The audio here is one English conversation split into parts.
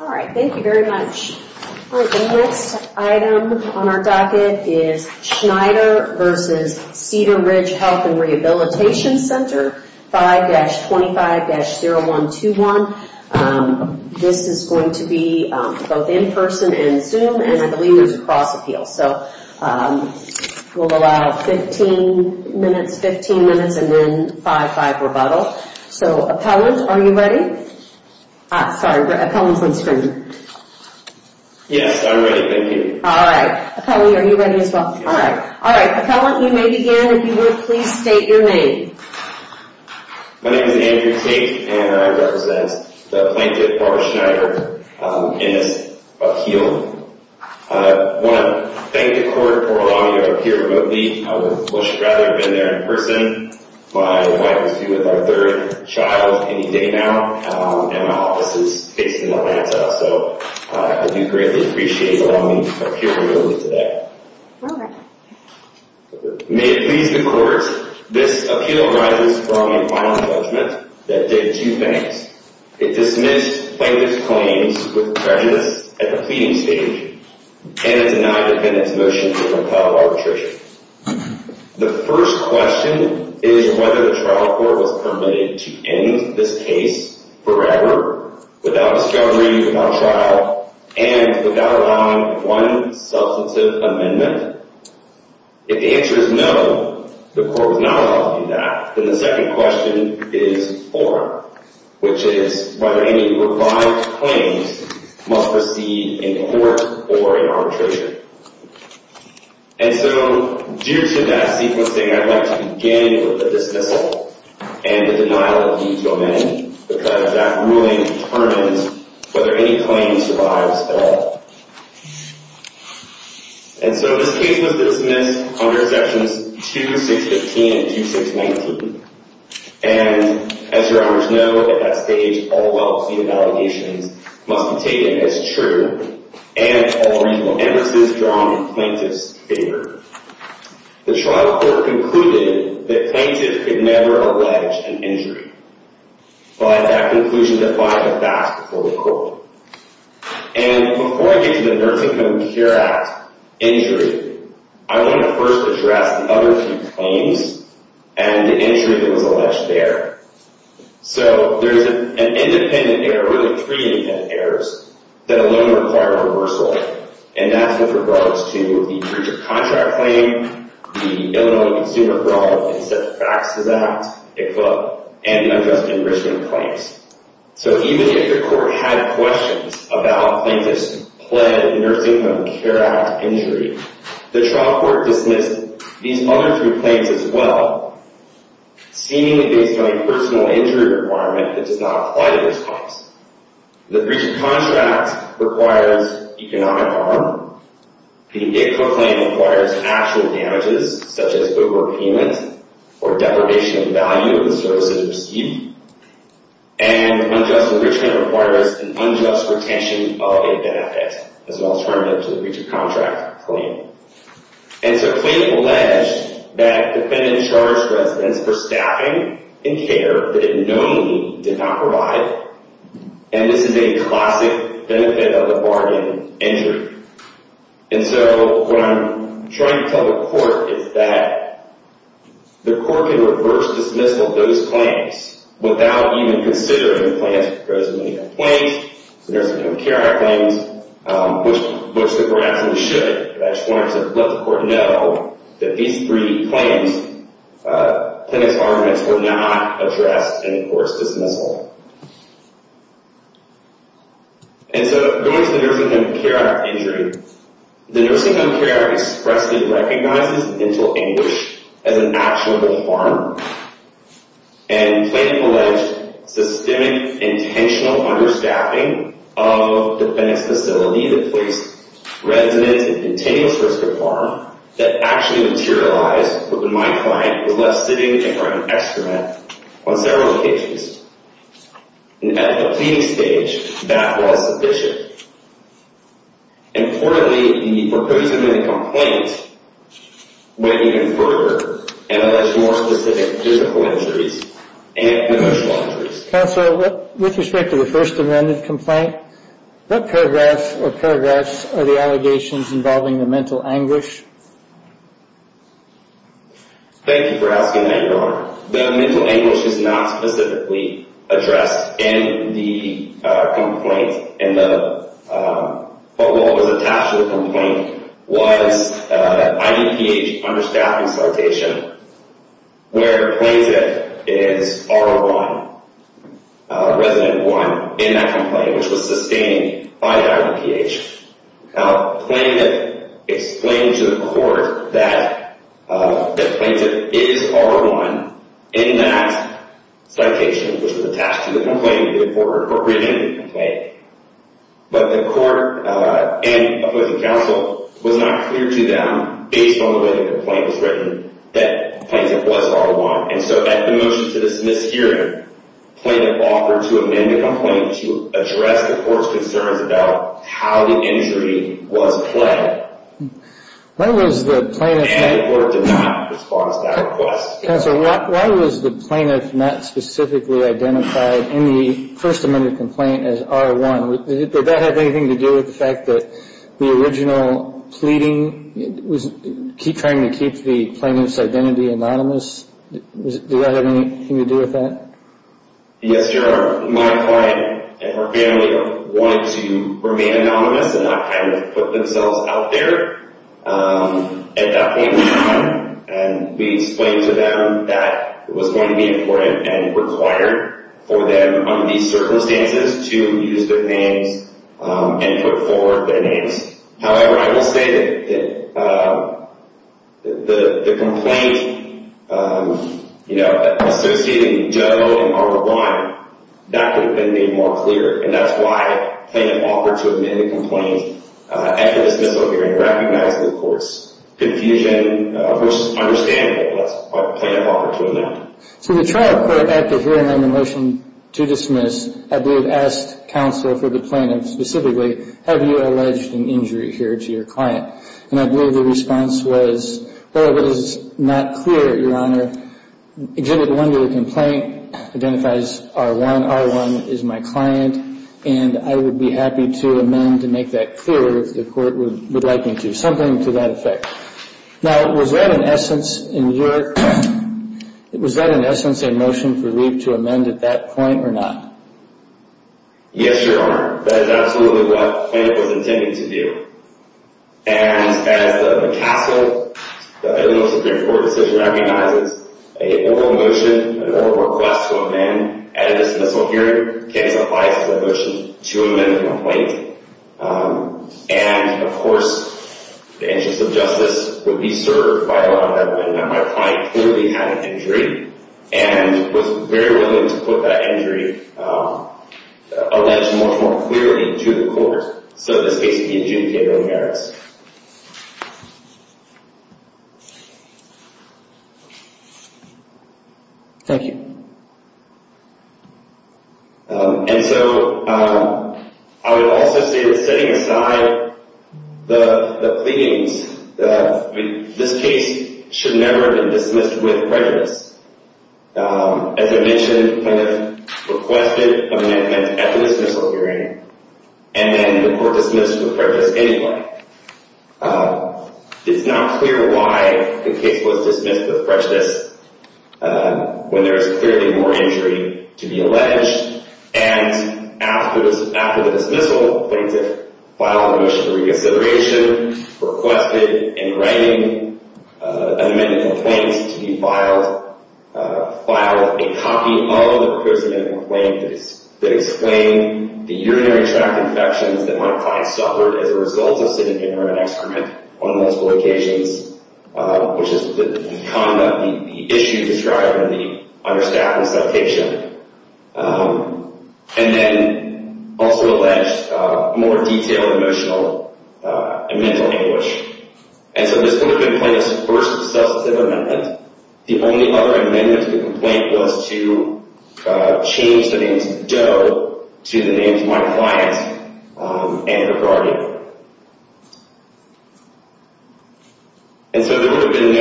Alright, thank you very much. The next item on our docket is Schneider v. Cedar Ridge Health and Rehabilitation Center 5-25-0121. This is going to be both in person and Zoom and I believe there's a cross appeal. So we'll allow 15 minutes, 15 minutes and then 5-5 rebuttal. So appellant, are you ready? Sorry, the appellant is on screen. Yes, I'm ready, thank you. Alright, appellant are you ready as well? Yes. Alright, appellant you may begin and if you would please state your name. My name is Andrew Tate and I represent the plaintiff Barbara Schneider in this appeal. I want to thank the court for allowing me to appear remotely. I would much rather have been there in person. My wife is with our third child any day now and my office is based in Atlanta. So I do greatly appreciate allowing me to appear remotely today. Alright. May it please the court, this appeal arises from a final judgment that did two things. It dismissed plaintiff's claims with prejudice at the pleading stage and it denied defendant's motion to repeal arbitration. The first question is whether the trial court was permitted to end this case forever without a struggle, without trial and without allowing one substantive amendment. If the answer is no, the court was not allowed to do that. Then the second question is four, which is whether any revived claims must proceed in court or in arbitration. And so due to that sequencing, I'd like to begin with the dismissal and the denial of these amendments because that ruling determines whether any claims survives at all. And so this case was dismissed under sections 2, 615 and 2, 619. And as your honors know, at that stage, all well-observed allegations must be taken as true and all reasonable emphases drawn in plaintiff's favor. The trial court concluded that plaintiff could never allege an injury. But that conclusion defied the facts before the court. And before I get to the Nursing Home Care Act injury, I want to first address the other two claims and the injury that was alleged there. So there's an independent error, really three independent errors, that alone required a reversal. And that's with regards to the breach of contract claim, the Illinois Consumer Fraud and Substantive Taxes Act, and the unjust enrichment claims. So even if the court had questions about plaintiff's pled Nursing Home Care Act injury, the trial court dismissed these other three claims as well, seemingly based on a personal injury requirement that does not apply to this cause. The breach of contract requires economic harm. The income claim requires actual damages, such as overpayment or deprivation of value of the services received. And unjust enrichment requires an unjust retention of a benefit as an alternative to the breach of contract claim. And so plaintiff alleged that defendant charged residents for staffing and care that it knownly did not provide. And this is a classic benefit of the bargain injury. And so what I'm trying to tell the court is that the court can reverse dismissal those claims without even considering the plaintiff's personal income claims, the Nursing Home Care Act claims, which the groundsman should. But I just wanted to let the court know that these three claims, plaintiff's arguments, were not addressed in the court's dismissal. And so going to the Nursing Home Care Act injury, the Nursing Home Care Act expressly recognizes mental anguish as an actionable harm. And plaintiff alleged systemic intentional understaffing of defendant's facility, the place residents at continuous risk of harm, that actually materialized when my client was left sitting in front of an extra mat on several occasions. And at the pleading stage, that was sufficient. Importantly, the purpose of the complaint went even further and alleged more specific physical injuries and emotional injuries. Counselor, with respect to the First Amendment complaint, what paragraphs or paragraphs are the allegations involving the mental anguish? Thank you for asking that, Your Honor. The mental anguish is not specifically addressed in the complaint. And what was attached to the complaint was an IDPH understaffing citation where plaintiff is R01, resident one, in that complaint, which was sustained by IDPH. Plaintiff explained to the court that the plaintiff is R01 in that citation, which was attached to the complaint in the court briefing. But the court and opposing counsel was not clear to them, based on the way the complaint was written, that the plaintiff was R01. And so at the motion to dismiss hearing, plaintiff offered to amend the complaint to address the court's concerns about how the injury was pled. And the court did not respond to that request. Counselor, why was the plaintiff not specifically identified in the First Amendment complaint as R01? Did that have anything to do with the fact that the original pleading was trying to keep the plaintiff's identity anonymous? Did that have anything to do with that? Yes, Your Honor. My client and her family wanted to remain anonymous and not kind of put themselves out there at that point in time. And we explained to them that it was going to be important and required for them, under these circumstances, to use their names and put forward their names. However, I will say that the complaint associating Joe and R01, that could have been made more clear. And that's why plaintiff offered to amend the complaint after the dismissal hearing, recognizing the court's confusion versus understanding what plaintiff offered to amend. So the trial court, after hearing on the motion to dismiss, I believe asked counsel for the plaintiff specifically, have you alleged an injury here to your client? And I believe the response was, well, it was not clear, Your Honor. Exhibit 1 to the complaint identifies R01. R01 is my client, and I would be happy to amend to make that clearer if the court would like me to. Something to that effect. Now, was that in essence a motion for Lee to amend at that point or not? Yes, Your Honor. That is absolutely what plaintiff was intending to do. And as the castle, the Illinois Supreme Court decision recognizes an oral motion, an oral request to amend at a dismissal hearing, case applies to the motion to amend the complaint. And, of course, the interest of justice would be served by allowing that when my client clearly had an injury and was very willing to put that injury alleged much more clearly to the court. So this case would be adjudicated on merits. Thank you. And so I would also say that setting aside the pleadings, this case should never have been dismissed with prejudice. As I mentioned, requested amendment at the dismissal hearing, and then the court dismissed with prejudice anyway. It's not clear why the case was dismissed with prejudice when there is clearly more injury to be alleged. And after the dismissal, plaintiff filed a motion for reconsideration, requested in writing an amended complaint to be filed, filed a copy of the proposed amended complaint that explained the urinary tract infections that my client suffered as a result of sitting in her experiment on multiple occasions, which is the issue described in the understatement citation. And then also alleged more detailed emotional and mental anguish. And so this would have been plaintiff's first substantive amendment. The only other amendment to the complaint was to change the name to Joe to the names of my client and her guardian. And so there would have been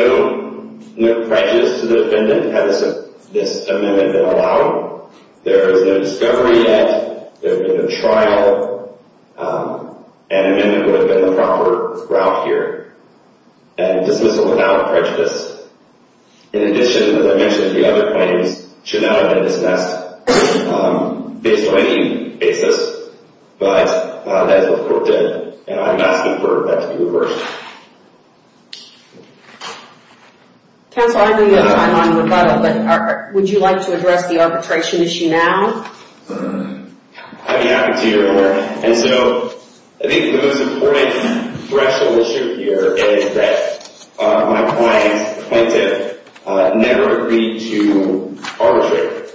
no prejudice to the defendant had this amendment been allowed. There is no discovery yet. There would have been a trial. An amendment would have been the proper route here. And dismissal without prejudice. In addition, as I mentioned, the other plaintiffs should not have been dismissed based on any basis, but as the court did. And I'm asking for that to be reversed. Counsel, I know you have time on rebuttal, but would you like to address the arbitration issue now? I'd be happy to. And so I think the most important threshold issue here is that my client, the plaintiff, never agreed to arbitrate.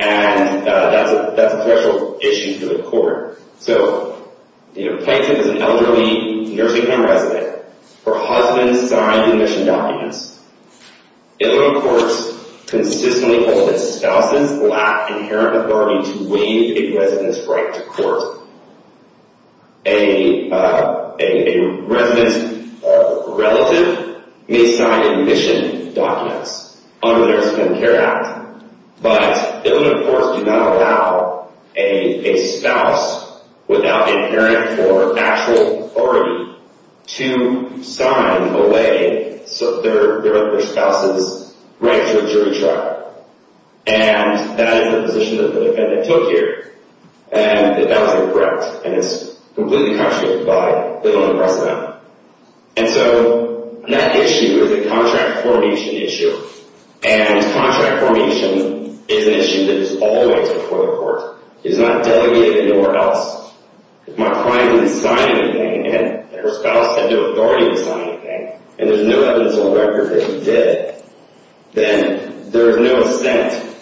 And that's a threshold issue for the court. So the plaintiff is an elderly nursing home resident. Her husband signed admission documents. Illinois courts consistently hold that spouses lack inherent authority to waive a resident's right to court. A resident's relative may sign admission documents under the Nursing Home Care Act, but Illinois courts do not allow a spouse without inherent or actual authority to sign away their spouse's right to a jury trial. And that is the position that the defendant took here, and that that was incorrect. And it's completely contradicted by Illinois precedent. And so that issue is a contract formation issue. And contract formation is an issue that is always before the court. It is not delegated anywhere else. If my client didn't sign anything, and her spouse had no authority to sign anything, and there's no evidence on record that he did, then there is no assent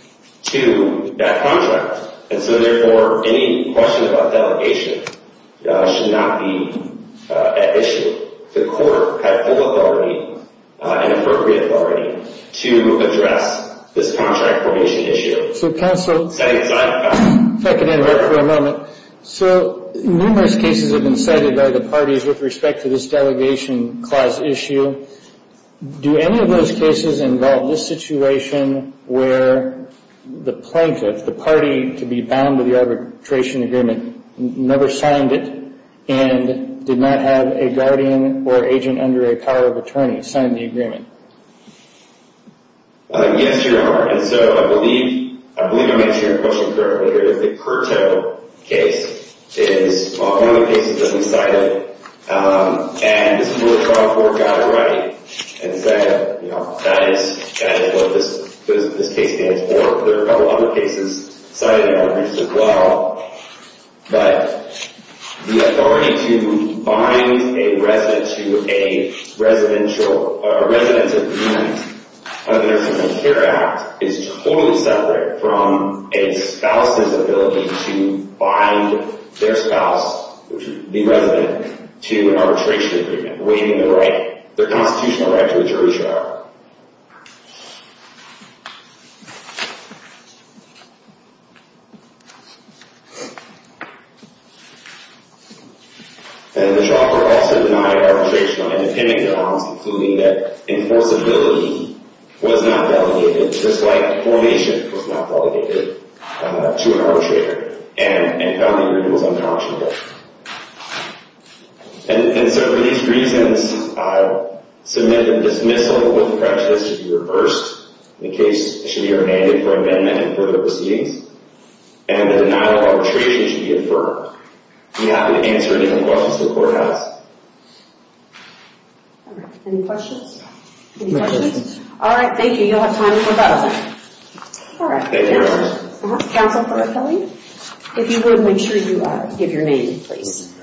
to that contract. And so, therefore, any question about delegation should not be an issue. The court had full authority and appropriate authority to address this contract formation issue. So counsel, if I could interrupt for a moment. So numerous cases have been cited by the parties with respect to this delegation clause issue. Do any of those cases involve this situation where the plaintiff, the party to be bound to the arbitration agreement, never signed it and did not have a guardian or agent under a power of attorney sign the agreement? Yes, Your Honor. And so I believe I'm answering your question correctly here. The Curto case is one of the cases that we cited. And this is where the court got it right and said, you know, that is what this case stands for. There are a couple other cases cited in our brief as well. But the authority to bind a resident to a resident's agreement under the Civil Care Act is totally separate from a spouse's ability to bind their spouse, the resident, to an arbitration agreement, waiving their constitutional right to a jury trial. And the trial court also denied arbitration on independent grounds, including that enforceability was not delegated, just like formation was not delegated to an arbitrator and found the agreement was unconscionable. And so for these reasons, I submit a dismissal of the prejudice to be reversed. The case should be remanded for amendment and further proceedings. And the denial of arbitration should be affirmed. I'm happy to answer any questions the court has. All right. Any questions? No questions. All right. Thank you. You'll have time for both. All right. Thank you, Your Honor. Counsel for rappelling? If you would, make sure you give your name, please.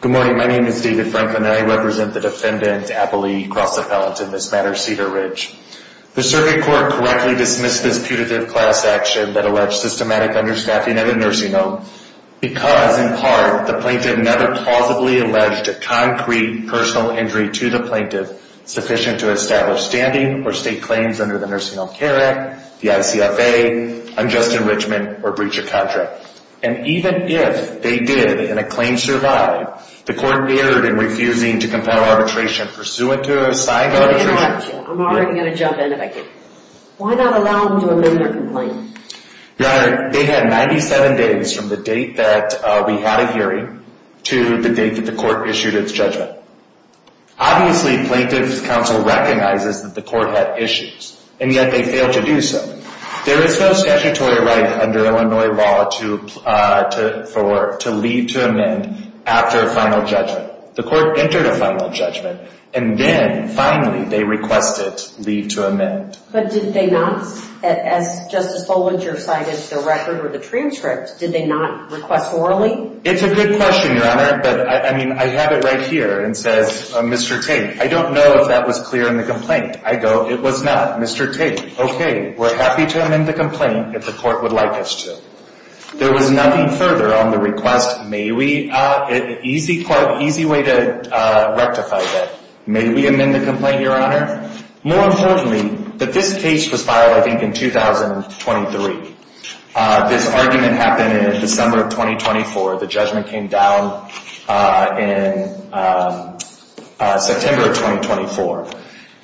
Good morning. My name is David Franklin, and I represent the defendant, Applee Cross Appellant in this matter, Cedar Ridge. The circuit court correctly dismissed this putative class action that alleged systematic understaffing at a nursing home because, in part, the plaintiff never plausibly alleged a concrete personal injury to the plaintiff sufficient to establish standing or state claims under the Nursing Home Care Act, the ICFA, unjust enrichment, or breach of contract. And even if they did and a claim survived, the court erred in refusing to compel arbitration pursuant to a signed arbitration. I'm already going to jump in if I can. Why not allow them to amend their complaint? Your Honor, they had 97 days from the date that we had a hearing to the date that the court issued its judgment. Obviously, Plaintiff's Counsel recognizes that the court had issues, and yet they failed to do so. There is no statutory right under Illinois law to leave to amend after a final judgment. The court entered a final judgment, and then, finally, they requested leave to amend. But did they not? As Justice Bollinger cited, the record or the transcript, did they not request orally? It's a good question, Your Honor, but, I mean, I have it right here. It says, Mr. Tate, I don't know if that was clear in the complaint. I go, it was not. Mr. Tate, okay, we're happy to amend the complaint if the court would like us to. There was nothing further on the request. May we? Easy way to rectify that. May we amend the complaint, Your Honor? More importantly, that this case was filed, I think, in 2023. This argument happened in December of 2024. The judgment came down in September of 2024.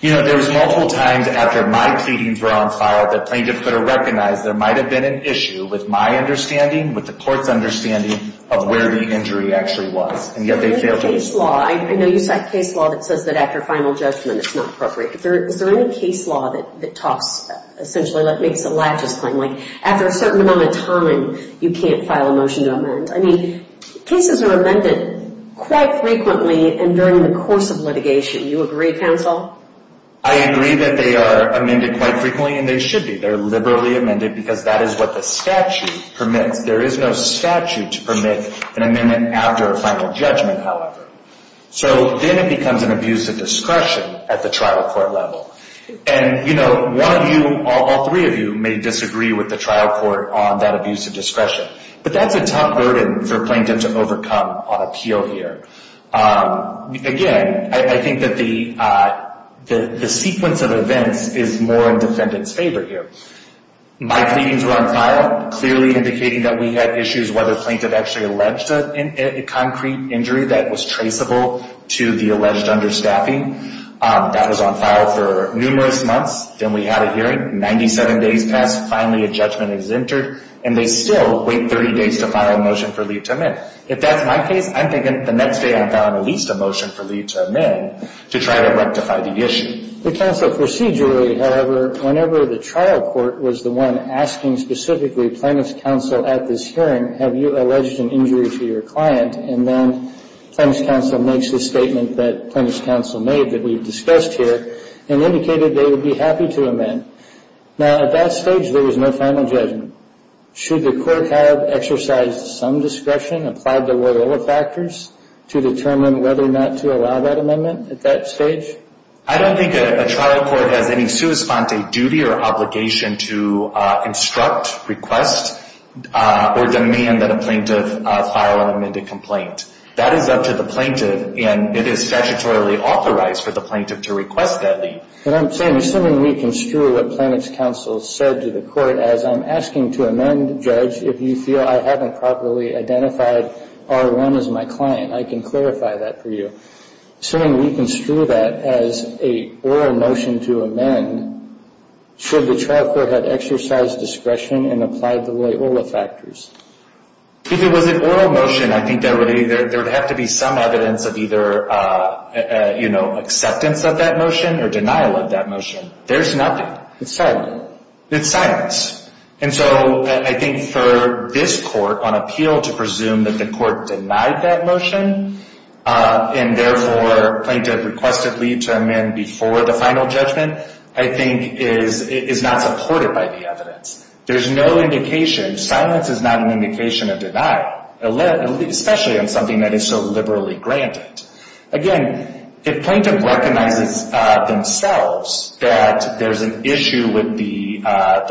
You know, there was multiple times after my pleadings were on file that plaintiffs could have recognized there might have been an issue with my understanding, with the court's understanding, of where the injury actually was, and yet they failed to do so. I know you cite case law that says that after final judgment it's not appropriate. Is there any case law that talks, essentially, that makes a lattice claim? Like, after a certain amount of time, you can't file a motion to amend. I mean, cases are amended quite frequently, and during the course of litigation, you agree, counsel? I agree that they are amended quite frequently, and they should be. They're liberally amended because that is what the statute permits. There is no statute to permit an amendment after a final judgment, however. So then it becomes an abuse of discretion at the trial court level. And, you know, one of you, all three of you, may disagree with the trial court on that abuse of discretion, but that's a tough burden for a plaintiff to overcome on appeal here. Again, I think that the sequence of events is more in defendant's favor here. My pleadings were on file, clearly indicating that we had issues, whether the plaintiff actually alleged a concrete injury that was traceable to the alleged understaffing. That was on file for numerous months. Then we had a hearing. Ninety-seven days passed. Finally, a judgment is entered, and they still wait 30 days to file a motion for leave to amend. If that's my case, I'm thinking the next day I've got at least a motion for leave to amend to try to rectify the issue. The counsel procedurally, however, whenever the trial court was the one asking specifically plaintiff's counsel at this hearing, have you alleged an injury to your client, and then plaintiff's counsel makes the statement that plaintiff's counsel made that we've discussed here and indicated they would be happy to amend. Now, at that stage, there was no final judgment. Should the court have exercised some discretion, applied to whatever factors to determine whether or not to allow that amendment at that stage? I don't think a trial court has any sua sponte duty or obligation to instruct, request, or demand that a plaintiff file an amended complaint. That is up to the plaintiff, and it is statutorily authorized for the plaintiff to request that leave. And I'm saying, assuming we construe what plaintiff's counsel said to the court, as I'm asking to amend, Judge, if you feel I haven't properly identified R1 as my client, I can clarify that for you. Assuming we construe that as a oral motion to amend, should the trial court have exercised discretion and applied the Loyola factors? If it was an oral motion, I think there would have to be some evidence of either, you know, acceptance of that motion or denial of that motion. There's nothing. It's silent. It's silence. And so I think for this court on appeal to presume that the court denied that motion and, therefore, plaintiff requested leave to amend before the final judgment, I think is not supported by the evidence. There's no indication. Silence is not an indication of deny, especially on something that is so liberally granted. Again, if plaintiff recognizes themselves that there's an issue with the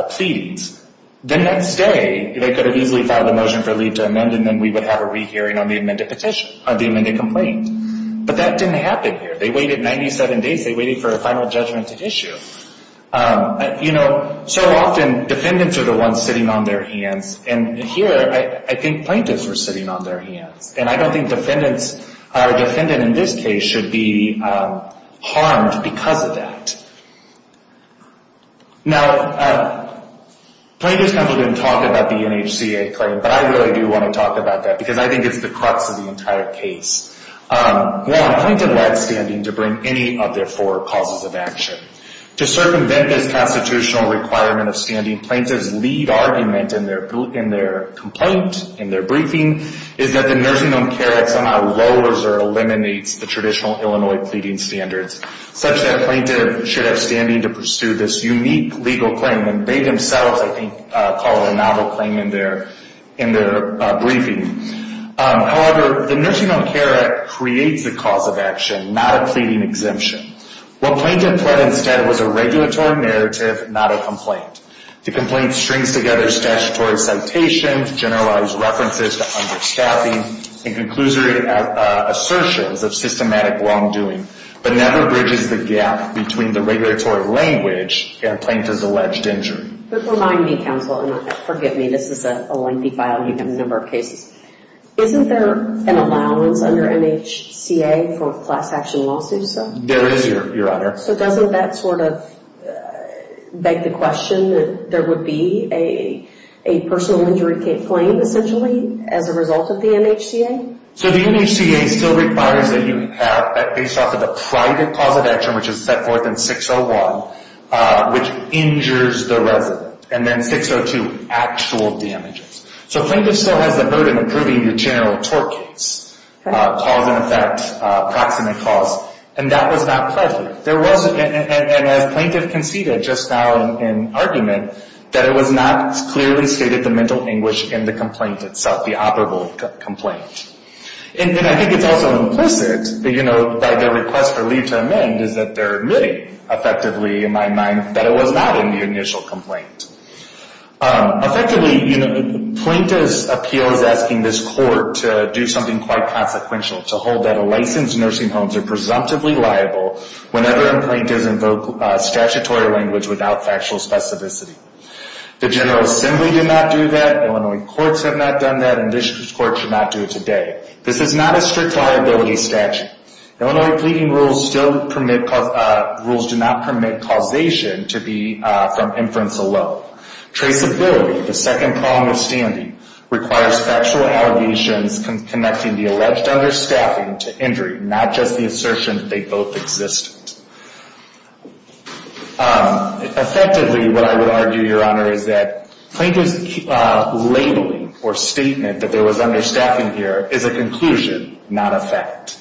pleadings, the next day they could have easily filed a motion for leave to amend and then we would have a rehearing on the amended petition, on the amended complaint. But that didn't happen here. They waited 97 days. They waited for a final judgment to issue. You know, so often defendants are the ones sitting on their hands, and here I think plaintiffs were sitting on their hands. And I don't think defendants or a defendant in this case should be harmed because of that. Now, plaintiff's counsel didn't talk about the NHCA claim, but I really do want to talk about that because I think it's the crux of the entire case. One, plaintiff led standing to bring any of their four causes of action. To circumvent this constitutional requirement of standing, plaintiff's lead argument in their complaint, in their briefing, is that the Nursing Home Care Act somehow lowers or eliminates the traditional Illinois pleading standards, such that plaintiff should have standing to pursue this unique legal claim. And they themselves, I think, called it a novel claim in their briefing. However, the Nursing Home Care Act creates a cause of action, not a pleading exemption. What plaintiff pled instead was a regulatory narrative, not a complaint. The complaint strings together statutory citations, generalized references to understaffing, and conclusory assertions of systematic wrongdoing, but never bridges the gap between the regulatory language and plaintiff's alleged injury. But remind me, counsel, and forgive me, this is a lengthy file, you have a number of cases. Isn't there an allowance under NHCA for class action lawsuits? There is, Your Honor. So doesn't that sort of beg the question that there would be a personal injury claim, essentially, as a result of the NHCA? So the NHCA still requires that you have, based off of a private cause of action, which is set forth in 601, which injures the resident, and then 602, actual damages. So plaintiff still has the burden of proving your general tort case, cause and effect, proximate cause, and that was not pleasure. There was, and as plaintiff conceded just now in argument, that it was not clearly stated the mental anguish in the complaint itself, the operable complaint. And I think it's also implicit, you know, by their request for leave to amend, is that they're admitting, effectively, in my mind, that it was not in the initial complaint. Effectively, you know, plaintiff's appeal is asking this court to do something quite consequential, to hold that unlicensed nursing homes are presumptively liable whenever a plaintiff invokes statutory language without factual specificity. The General Assembly did not do that, Illinois courts have not done that, and this court should not do it today. This is not a strict liability statute. Illinois pleading rules do not permit causation to be from inference alone. Traceability, the second prong of standing, requires factual allegations connecting the alleged understaffing to injury, not just the assertion that they both existed. Effectively, what I would argue, Your Honor, is that plaintiff's labeling or statement that there was understaffing here is a conclusion, not a fact.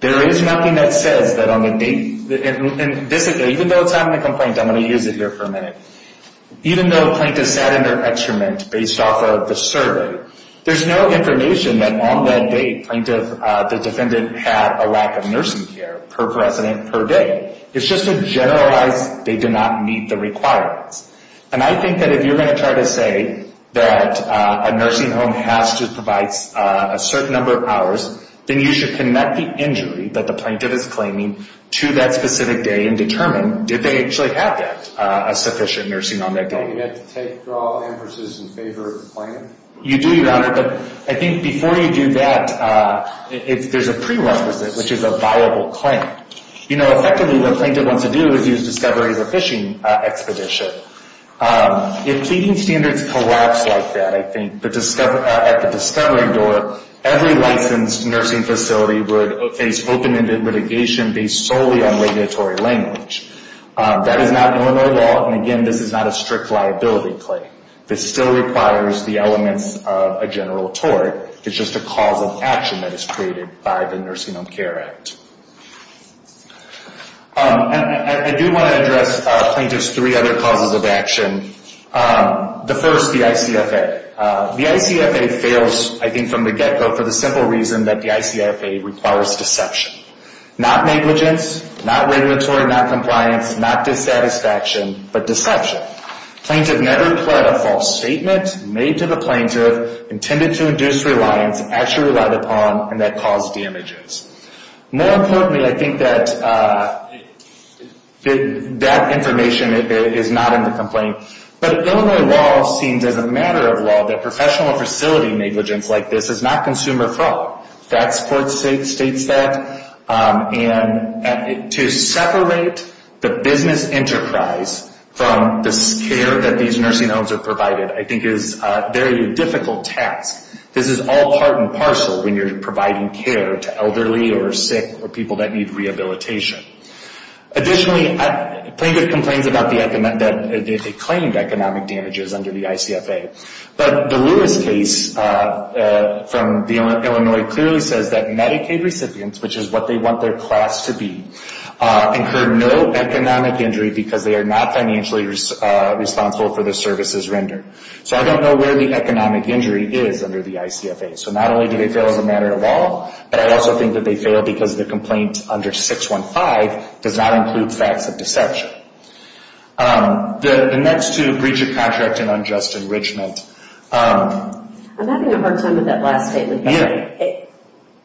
There is nothing that says that on the date, and even though it's not in the complaint, I'm going to use it here for a minute, even though plaintiffs sat in their excrement based off of the survey, there's no information that on that date plaintiff, the defendant, had a lack of nursing care per precedent per day. It's just a generalized they did not meet the requirements. And I think that if you're going to try to say that a nursing home has to provide a certain number of hours, then you should connect the injury that the plaintiff is claiming to that specific day and determine, did they actually have that, a sufficient nursing on that day. Do I get to take draw emphases in favor of the claim? You do, Your Honor, but I think before you do that, there's a prerequisite, which is a viable claim. You know, effectively, what plaintiff wants to do is use discovery as a fishing expedition. If pleading standards collapse like that, I think, at the discovery door, every licensed nursing facility would face open-ended litigation based solely on regulatory language. That is not normal law, and again, this is not a strict liability claim. This still requires the elements of a general tort. It's just a cause of action that is created by the Nursing Home Care Act. I do want to address plaintiff's three other causes of action. The first, the ICFA. The ICFA fails, I think, from the get-go for the simple reason that the ICFA requires deception. Not negligence, not regulatory noncompliance, not dissatisfaction, but deception. Plaintiff never pled a false statement made to the plaintiff intended to induce reliance, actually relied upon, and that caused damages. More importantly, I think that that information is not in the complaint, but Illinois law seems as a matter of law that professional facility negligence like this is not consumer fraud. That's what states that. And to separate the business enterprise from the care that these nursing homes are provided, I think, is a very difficult task. This is all part and parcel when you're providing care to elderly or sick or people that need rehabilitation. Additionally, plaintiff complains that they claimed economic damages under the ICFA, but the Lewis case from Illinois clearly says that Medicaid recipients, which is what they want their class to be, incur no economic injury because they are not financially responsible for the services rendered. So I don't know where the economic injury is under the ICFA. So not only do they fail as a matter of law, but I also think that they fail because the complaint under 615 does not include facts of deception. The next two, breach of contract and unjust enrichment. I'm having a hard time with that last statement.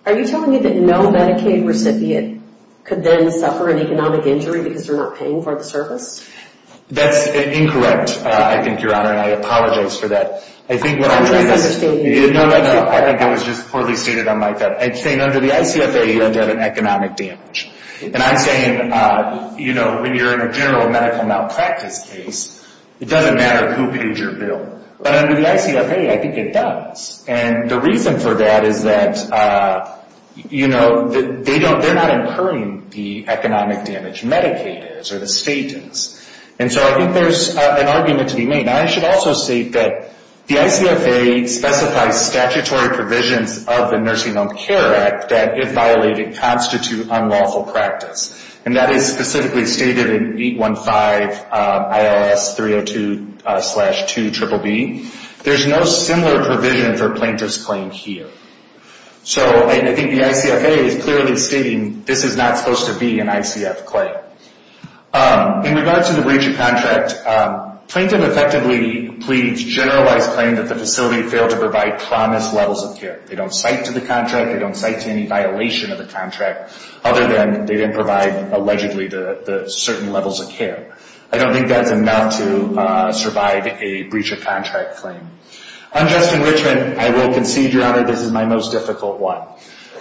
Are you telling me that no Medicaid recipient could then suffer an economic injury because they're not paying for the service? That's incorrect, I think, Your Honor, and I apologize for that. I think it was just poorly stated on my part. I'm saying under the ICFA, you end up in economic damage. And I'm saying, you know, when you're in a general medical malpractice case, it doesn't matter who paid your bill. But under the ICFA, I think it does. And the reason for that is that, you know, they're not incurring the economic damage. Medicaid is or the state is. And so I think there's an argument to be made. I should also say that the ICFA specifies statutory provisions of the Nursing Home Care Act that, if violated, constitute unlawful practice. And that is specifically stated in 815 IRS 302-2BBB. There's no similar provision for plaintiff's claim here. So I think the ICFA is clearly stating this is not supposed to be an ICF claim. In regards to the breach of contract, plaintiff effectively pleads generalized claim that the facility failed to provide promised levels of care. They don't cite to the contract. They don't cite to any violation of the contract, other than they didn't provide allegedly the certain levels of care. I don't think that's enough to survive a breach of contract claim. On Justin Richman, I will concede, Your Honor, this is my most difficult one.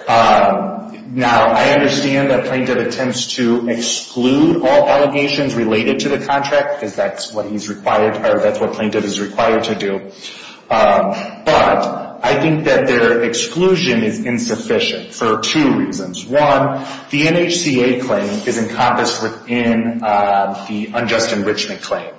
Now, I understand that plaintiff attempts to exclude all allegations related to the contract, because that's what he's required or that's what plaintiff is required to do. But I think that their exclusion is insufficient for two reasons. One, the NHCA claim is encompassed within the unjust enrichment claim.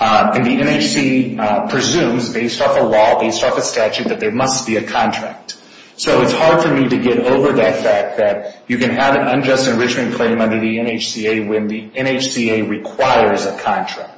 And the NHC presumes, based off a law, based off a statute, that there must be a contract. So it's hard for me to get over that fact that you can have an unjust enrichment claim under the NHCA when the NHCA requires a contract.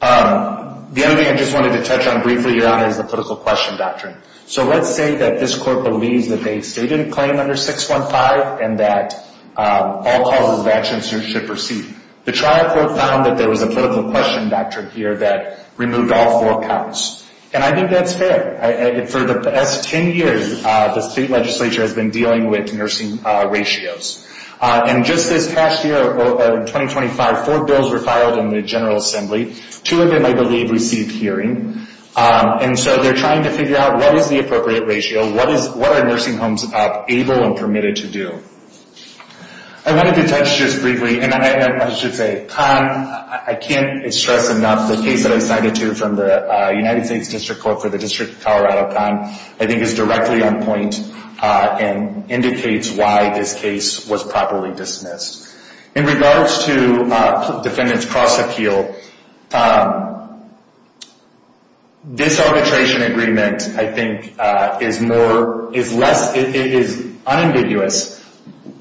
The other thing I just wanted to touch on briefly, Your Honor, is the political question doctrine. So let's say that this court believes that they've stated a claim under 615 and that all causes of action should proceed. The trial court found that there was a political question doctrine here that removed all four counts. And I think that's fair. For the past 10 years, the state legislature has been dealing with nursing ratios. And just this past year, in 2025, four bills were filed in the General Assembly. Two of them, I believe, received hearing. And so they're trying to figure out what is the appropriate ratio, what are nursing homes able and permitted to do. I wanted to touch just briefly, and I should say, Conn, I can't stress enough, the case that I cited to you from the United States District Court for the District of Colorado, Conn, I think is directly on point and indicates why this case was properly dismissed. In regards to defendants' cross-appeal, this arbitration agreement, I think, is unambiguous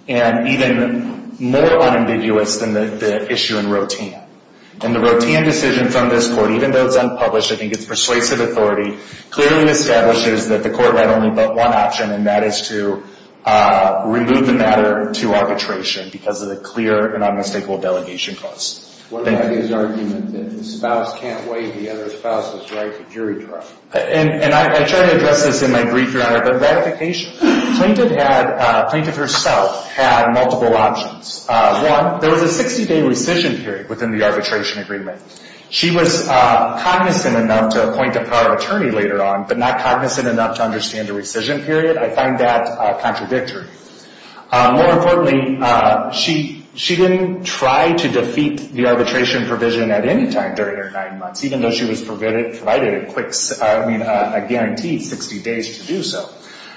and even more unambiguous than the issue in Rotin. In the Rotin decision from this court, even though it's unpublished, I think its persuasive authority clearly establishes that the court had only but one option, and that is to remove the matter to arbitration because of the clear and unmistakable delegation cost. Thank you. What about his argument that the spouse can't waive the other spouse's right to jury trial? And I try to address this in my brief, Your Honor, but ratification. Plaintiff herself had multiple options. One, there was a 60-day rescission period within the arbitration agreement. She was cognizant enough to appoint a prior attorney later on, but not cognizant enough to understand the rescission period. I find that contradictory. More importantly, she didn't try to defeat the arbitration provision at any time during her nine months, even though she was provided a guaranteed 60 days to do so.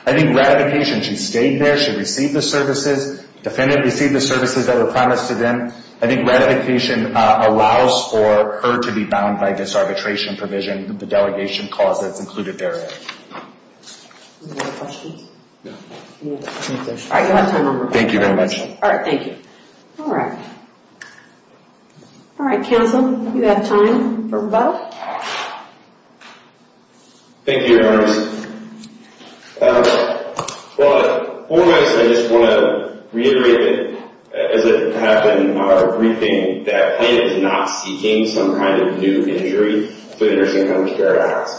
I think ratification, she stayed there. She received the services. Defendant received the services that were promised to them. I think ratification allows for her to be bound by this arbitration provision, the delegation cost that's included there. Any other questions? No. All right. You'll have time. Thank you very much. All right. Thank you. All right. All right, counsel, you have time for a vote. Thank you, Your Honor. Well, I just want to reiterate, as it happened on our briefing, that the plaintiff is not seeking some kind of new injury through the Nursing Home Care Act.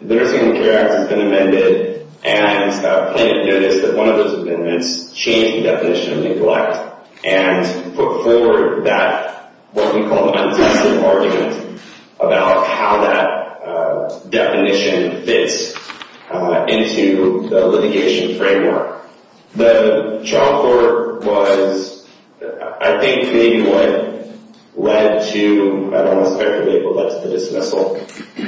The Nursing Home Care Act has been amended, and the plaintiff noticed that one of those amendments changed the definition of neglect and put forward that, what we call, untested argument about how that definition fits into the litigation framework. The trial court was, I think, maybe what led to, I don't want to speculate, but led to the dismissal.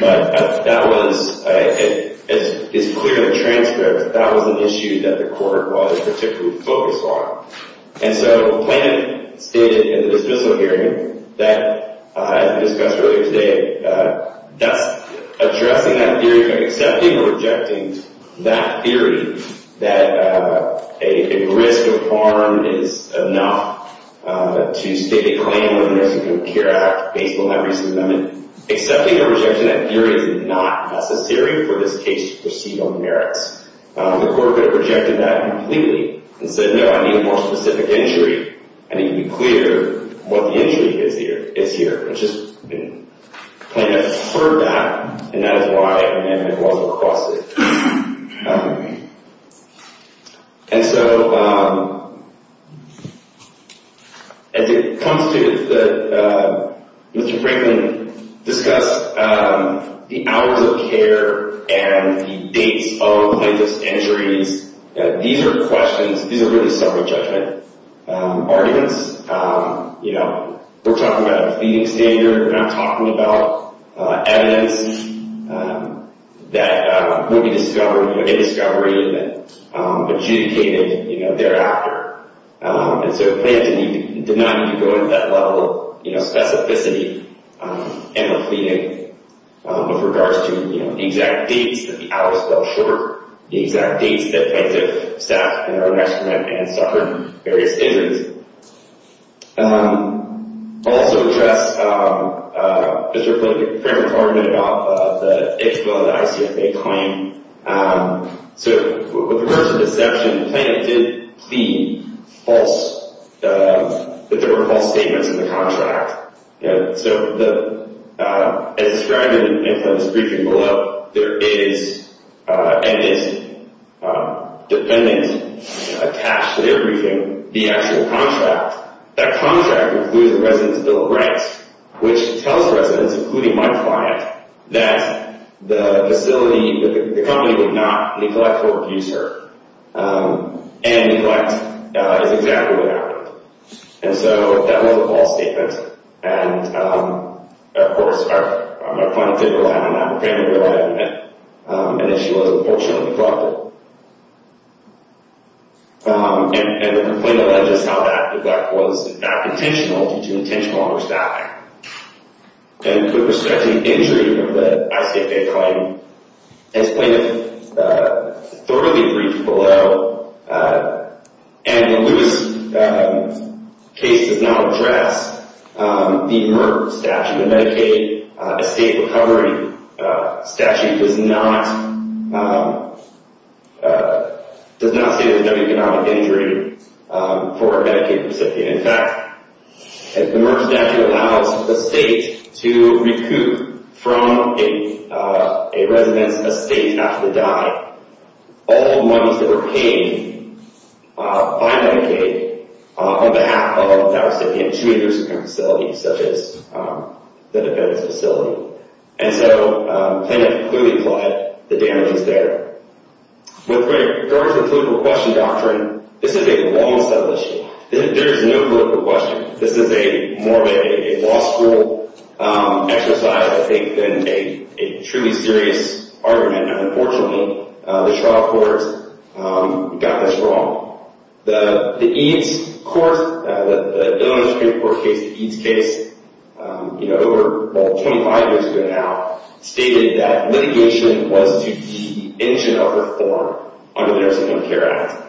But that was, it's clear in the transcript, that was an issue that the court was particularly focused on. And so the plaintiff stated in the dismissal hearing that, as we discussed earlier today, that's addressing that theory of accepting or rejecting that theory, that a risk of harm is enough to state a claim under the Nursing Home Care Act, based on that recent amendment. Accepting or rejecting that theory is not necessary for this case to proceed on the merits. The court would have rejected that completely and said, no, I need a more specific injury. I need to be clear what the injury is here. The plaintiff heard that, and that is why an amendment was requested. And so, as it comes to the, Mr. Franklin discussed the hours of care and the dates of plaintiff's injuries, these are questions, these are really separate judgment arguments. You know, we're talking about a feeding standard, we're not talking about evidence that would be discovered, a discovery that adjudicated thereafter. And so the plaintiff did not need to go into that level of specificity in the feeding, with regards to the exact dates, that the hours fell short, the exact dates that plaintiff sat in her restroom and suffered various injuries. I'll also address, Mr. Franklin's argument about the ICFA claim. So, with regards to deception, the plaintiff did plead false, that there were false statements in the contract. So, as described in this briefing below, there is, and is dependent, attached to their briefing, the actual contract. That contract includes the resident's bill of rights, which tells residents, including my client, that the facility, that the company did not neglect or abuse her. And neglect is exactly what happened. And so, that was a false statement. And, of course, my client did rely on an apprehender, and that she was unfortunately brought there. And the complaint alleges how that neglect was not intentional, due to intentional homicide. And with respect to the injury of the ICFA claim, as plaintiff thoroughly briefed below, and the Lewis case does not address the MERS statute. The Medicaid estate recovery statute does not, does not say there's no economic injury for a Medicaid recipient. In fact, the MERS statute allows a state to recoup from a resident's estate after they die all monies that were paid by Medicaid on behalf of that recipient to a nursing home facility, such as the defendant's facility. And so, plaintiff clearly implied the damage was there. With regard to the political question doctrine, this is a long-studded issue. There is no political question. This is more of a law school exercise, I think, than a truly serious argument. And unfortunately, the trial court got this wrong. The EADS court, the Illinois Superior Court case, the EADS case, you know, over 25 years ago now, stated that litigation was to de-engineer reform under the Nursing Home Care Act.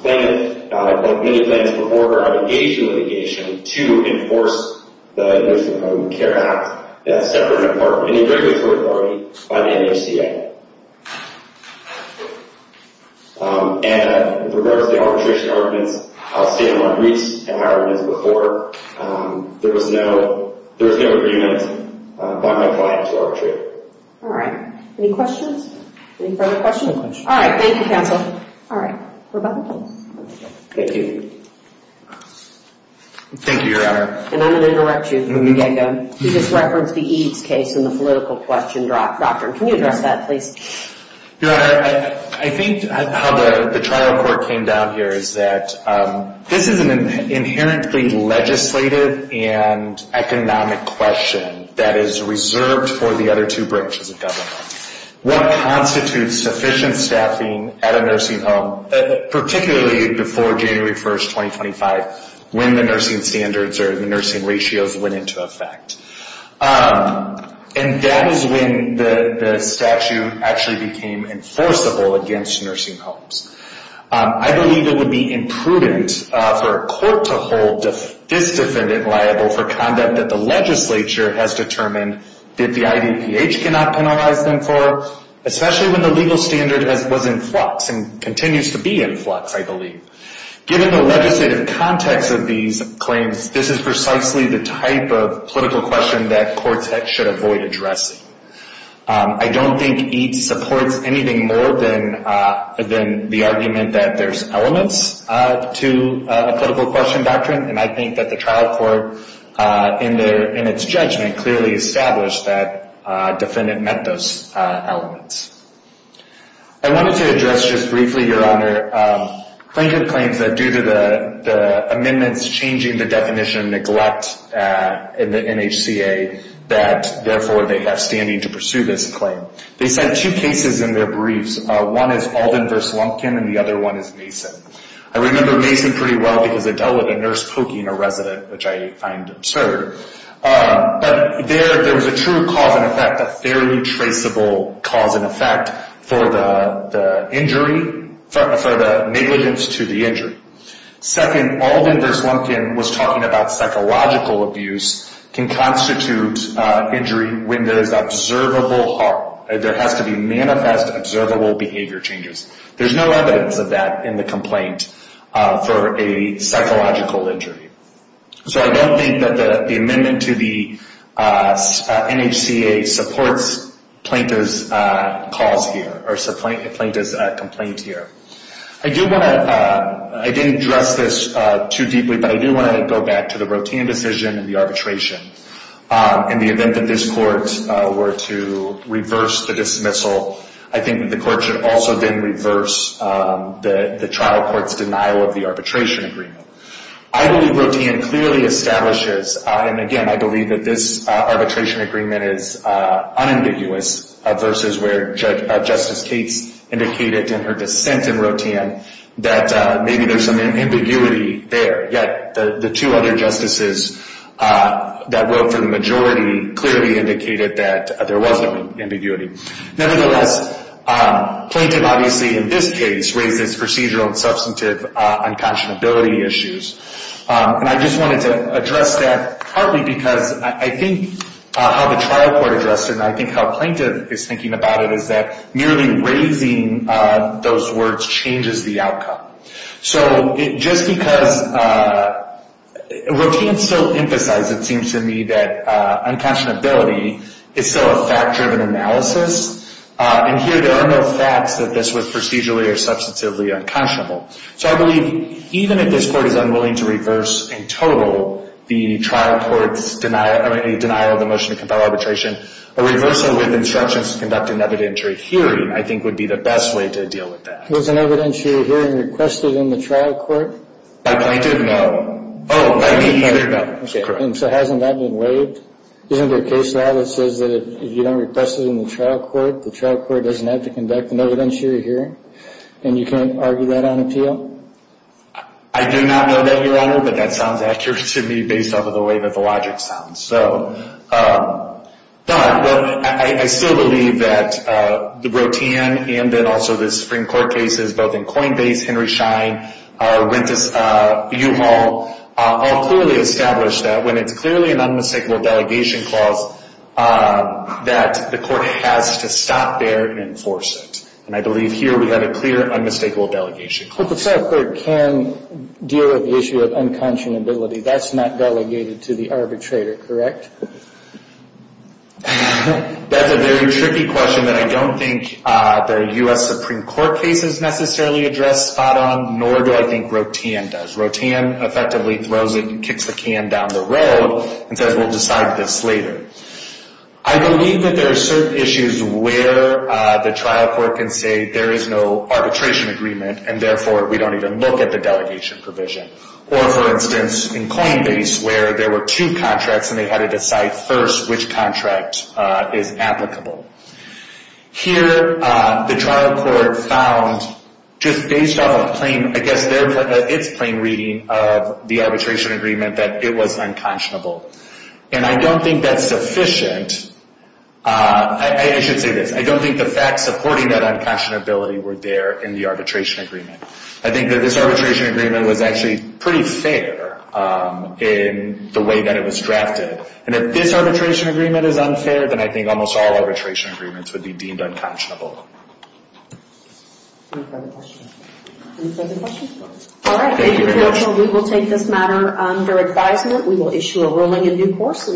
Plaintiff, like many plaintiffs before her, had engaged in litigation to enforce the Nursing Home Care Act as separate and part of any regulatory authority by the NACA. And with regard to the arbitration arguments, I'll say in my briefs and arguments before, there was no agreement by my client to arbitrate. All right. Any questions? Any further questions? No questions. All right. Thank you, counsel. All right. Rebecca? Thank you. Thank you, Your Honor. And I'm going to interrupt you from the get-go. You just referenced the EADS case and the political question doctrine. Can you address that, please? Your Honor, I think how the trial court came down here is that this is an inherently legislative and economic question that is reserved for the other two branches of government. What constitutes sufficient staffing at a nursing home, particularly before January 1, 2025, when the nursing standards or the nursing ratios went into effect? And that is when the statute actually became enforceable against nursing homes. I believe it would be imprudent for a court to hold this defendant liable for conduct that the legislature has determined that the IDPH cannot penalize them for, especially when the legal standard was in flux and continues to be in flux, I believe. Given the legislative context of these claims, this is precisely the type of political question that courts should avoid addressing. I don't think EADS supports anything more than the argument that there's elements to a political question doctrine. And I think that the trial court, in its judgment, clearly established that defendant met those elements. I wanted to address just briefly, Your Honor, Plaintiff claims that due to the amendments changing the definition of neglect in the NHCA, that therefore they have standing to pursue this claim. They said two cases in their briefs. One is Alden v. Lumpkin, and the other one is Mason. I remember Mason pretty well because they dealt with a nurse poking a resident, which I find absurd. But there was a true cause and effect, a fairly traceable cause and effect, for the injury, for the negligence to the injury. Second, Alden v. Lumpkin was talking about psychological abuse can constitute injury when there is observable harm. There has to be manifest, observable behavior changes. There's no evidence of that in the complaint for a psychological injury. So I don't think that the amendment to the NHCA supports Plaintiff's cause here, or Plaintiff's complaint here. I didn't address this too deeply, but I do want to go back to the Rotin decision and the arbitration. In the event that this court were to reverse the dismissal, I think that the court should also then reverse the trial court's denial of the arbitration agreement. I believe Rotin clearly establishes, and again, I believe that this arbitration agreement is unambiguous versus where Justice Cates indicated in her dissent in Rotin that maybe there's some ambiguity there. Yet the two other justices that wrote for the majority clearly indicated that there was some ambiguity. Nevertheless, Plaintiff obviously in this case raises procedural and substantive unconscionability issues. And I just wanted to address that partly because I think how the trial court addressed it, and I think how Plaintiff is thinking about it, is that merely raising those words changes the outcome. So just because Rotin still emphasized, it seems to me, that unconscionability is still a fact-driven analysis. And here there are no facts that this was procedurally or substantively unconscionable. So I believe even if this court is unwilling to reverse in total the trial court's denial, or any denial of the motion to compel arbitration, a reversal with instructions to conduct an evidentiary hearing, I think, would be the best way to deal with that. Was an evidentiary hearing requested in the trial court? By Plaintiff? No. Oh, by me either? No. Okay, and so hasn't that been waived? Isn't there a case law that says that if you don't request it in the trial court, the trial court doesn't have to conduct an evidentiary hearing, and you can't argue that on appeal? I do not know that, Your Honor, but that sounds accurate to me based off of the way that the logic sounds. But I still believe that the Rotin and then also the Supreme Court cases, both in Coinbase, Henry Schein, U-Haul, all clearly establish that when it's clearly an unmistakable delegation clause that the court has to stop there and enforce it. And I believe here we have a clear unmistakable delegation clause. But the trial court can deal with the issue of unconscionability. That's not delegated to the arbitrator, correct? That's a very tricky question that I don't think the U.S. Supreme Court cases necessarily address spot on, nor do I think Rotin does. Rotin effectively throws it and kicks the can down the road and says we'll decide this later. I believe that there are certain issues where the trial court can say there is no arbitration agreement and therefore we don't even look at the delegation provision. Or, for instance, in Coinbase where there were two contracts and they had to decide first which contract is applicable. Here the trial court found, just based off of its plain reading of the arbitration agreement, that it was unconscionable. And I don't think that's sufficient. I should say this. I don't think the facts supporting that unconscionability were there in the arbitration agreement. I think that this arbitration agreement was actually pretty fair in the way that it was drafted. And if this arbitration agreement is unfair, then I think almost all arbitration agreements would be deemed unconscionable.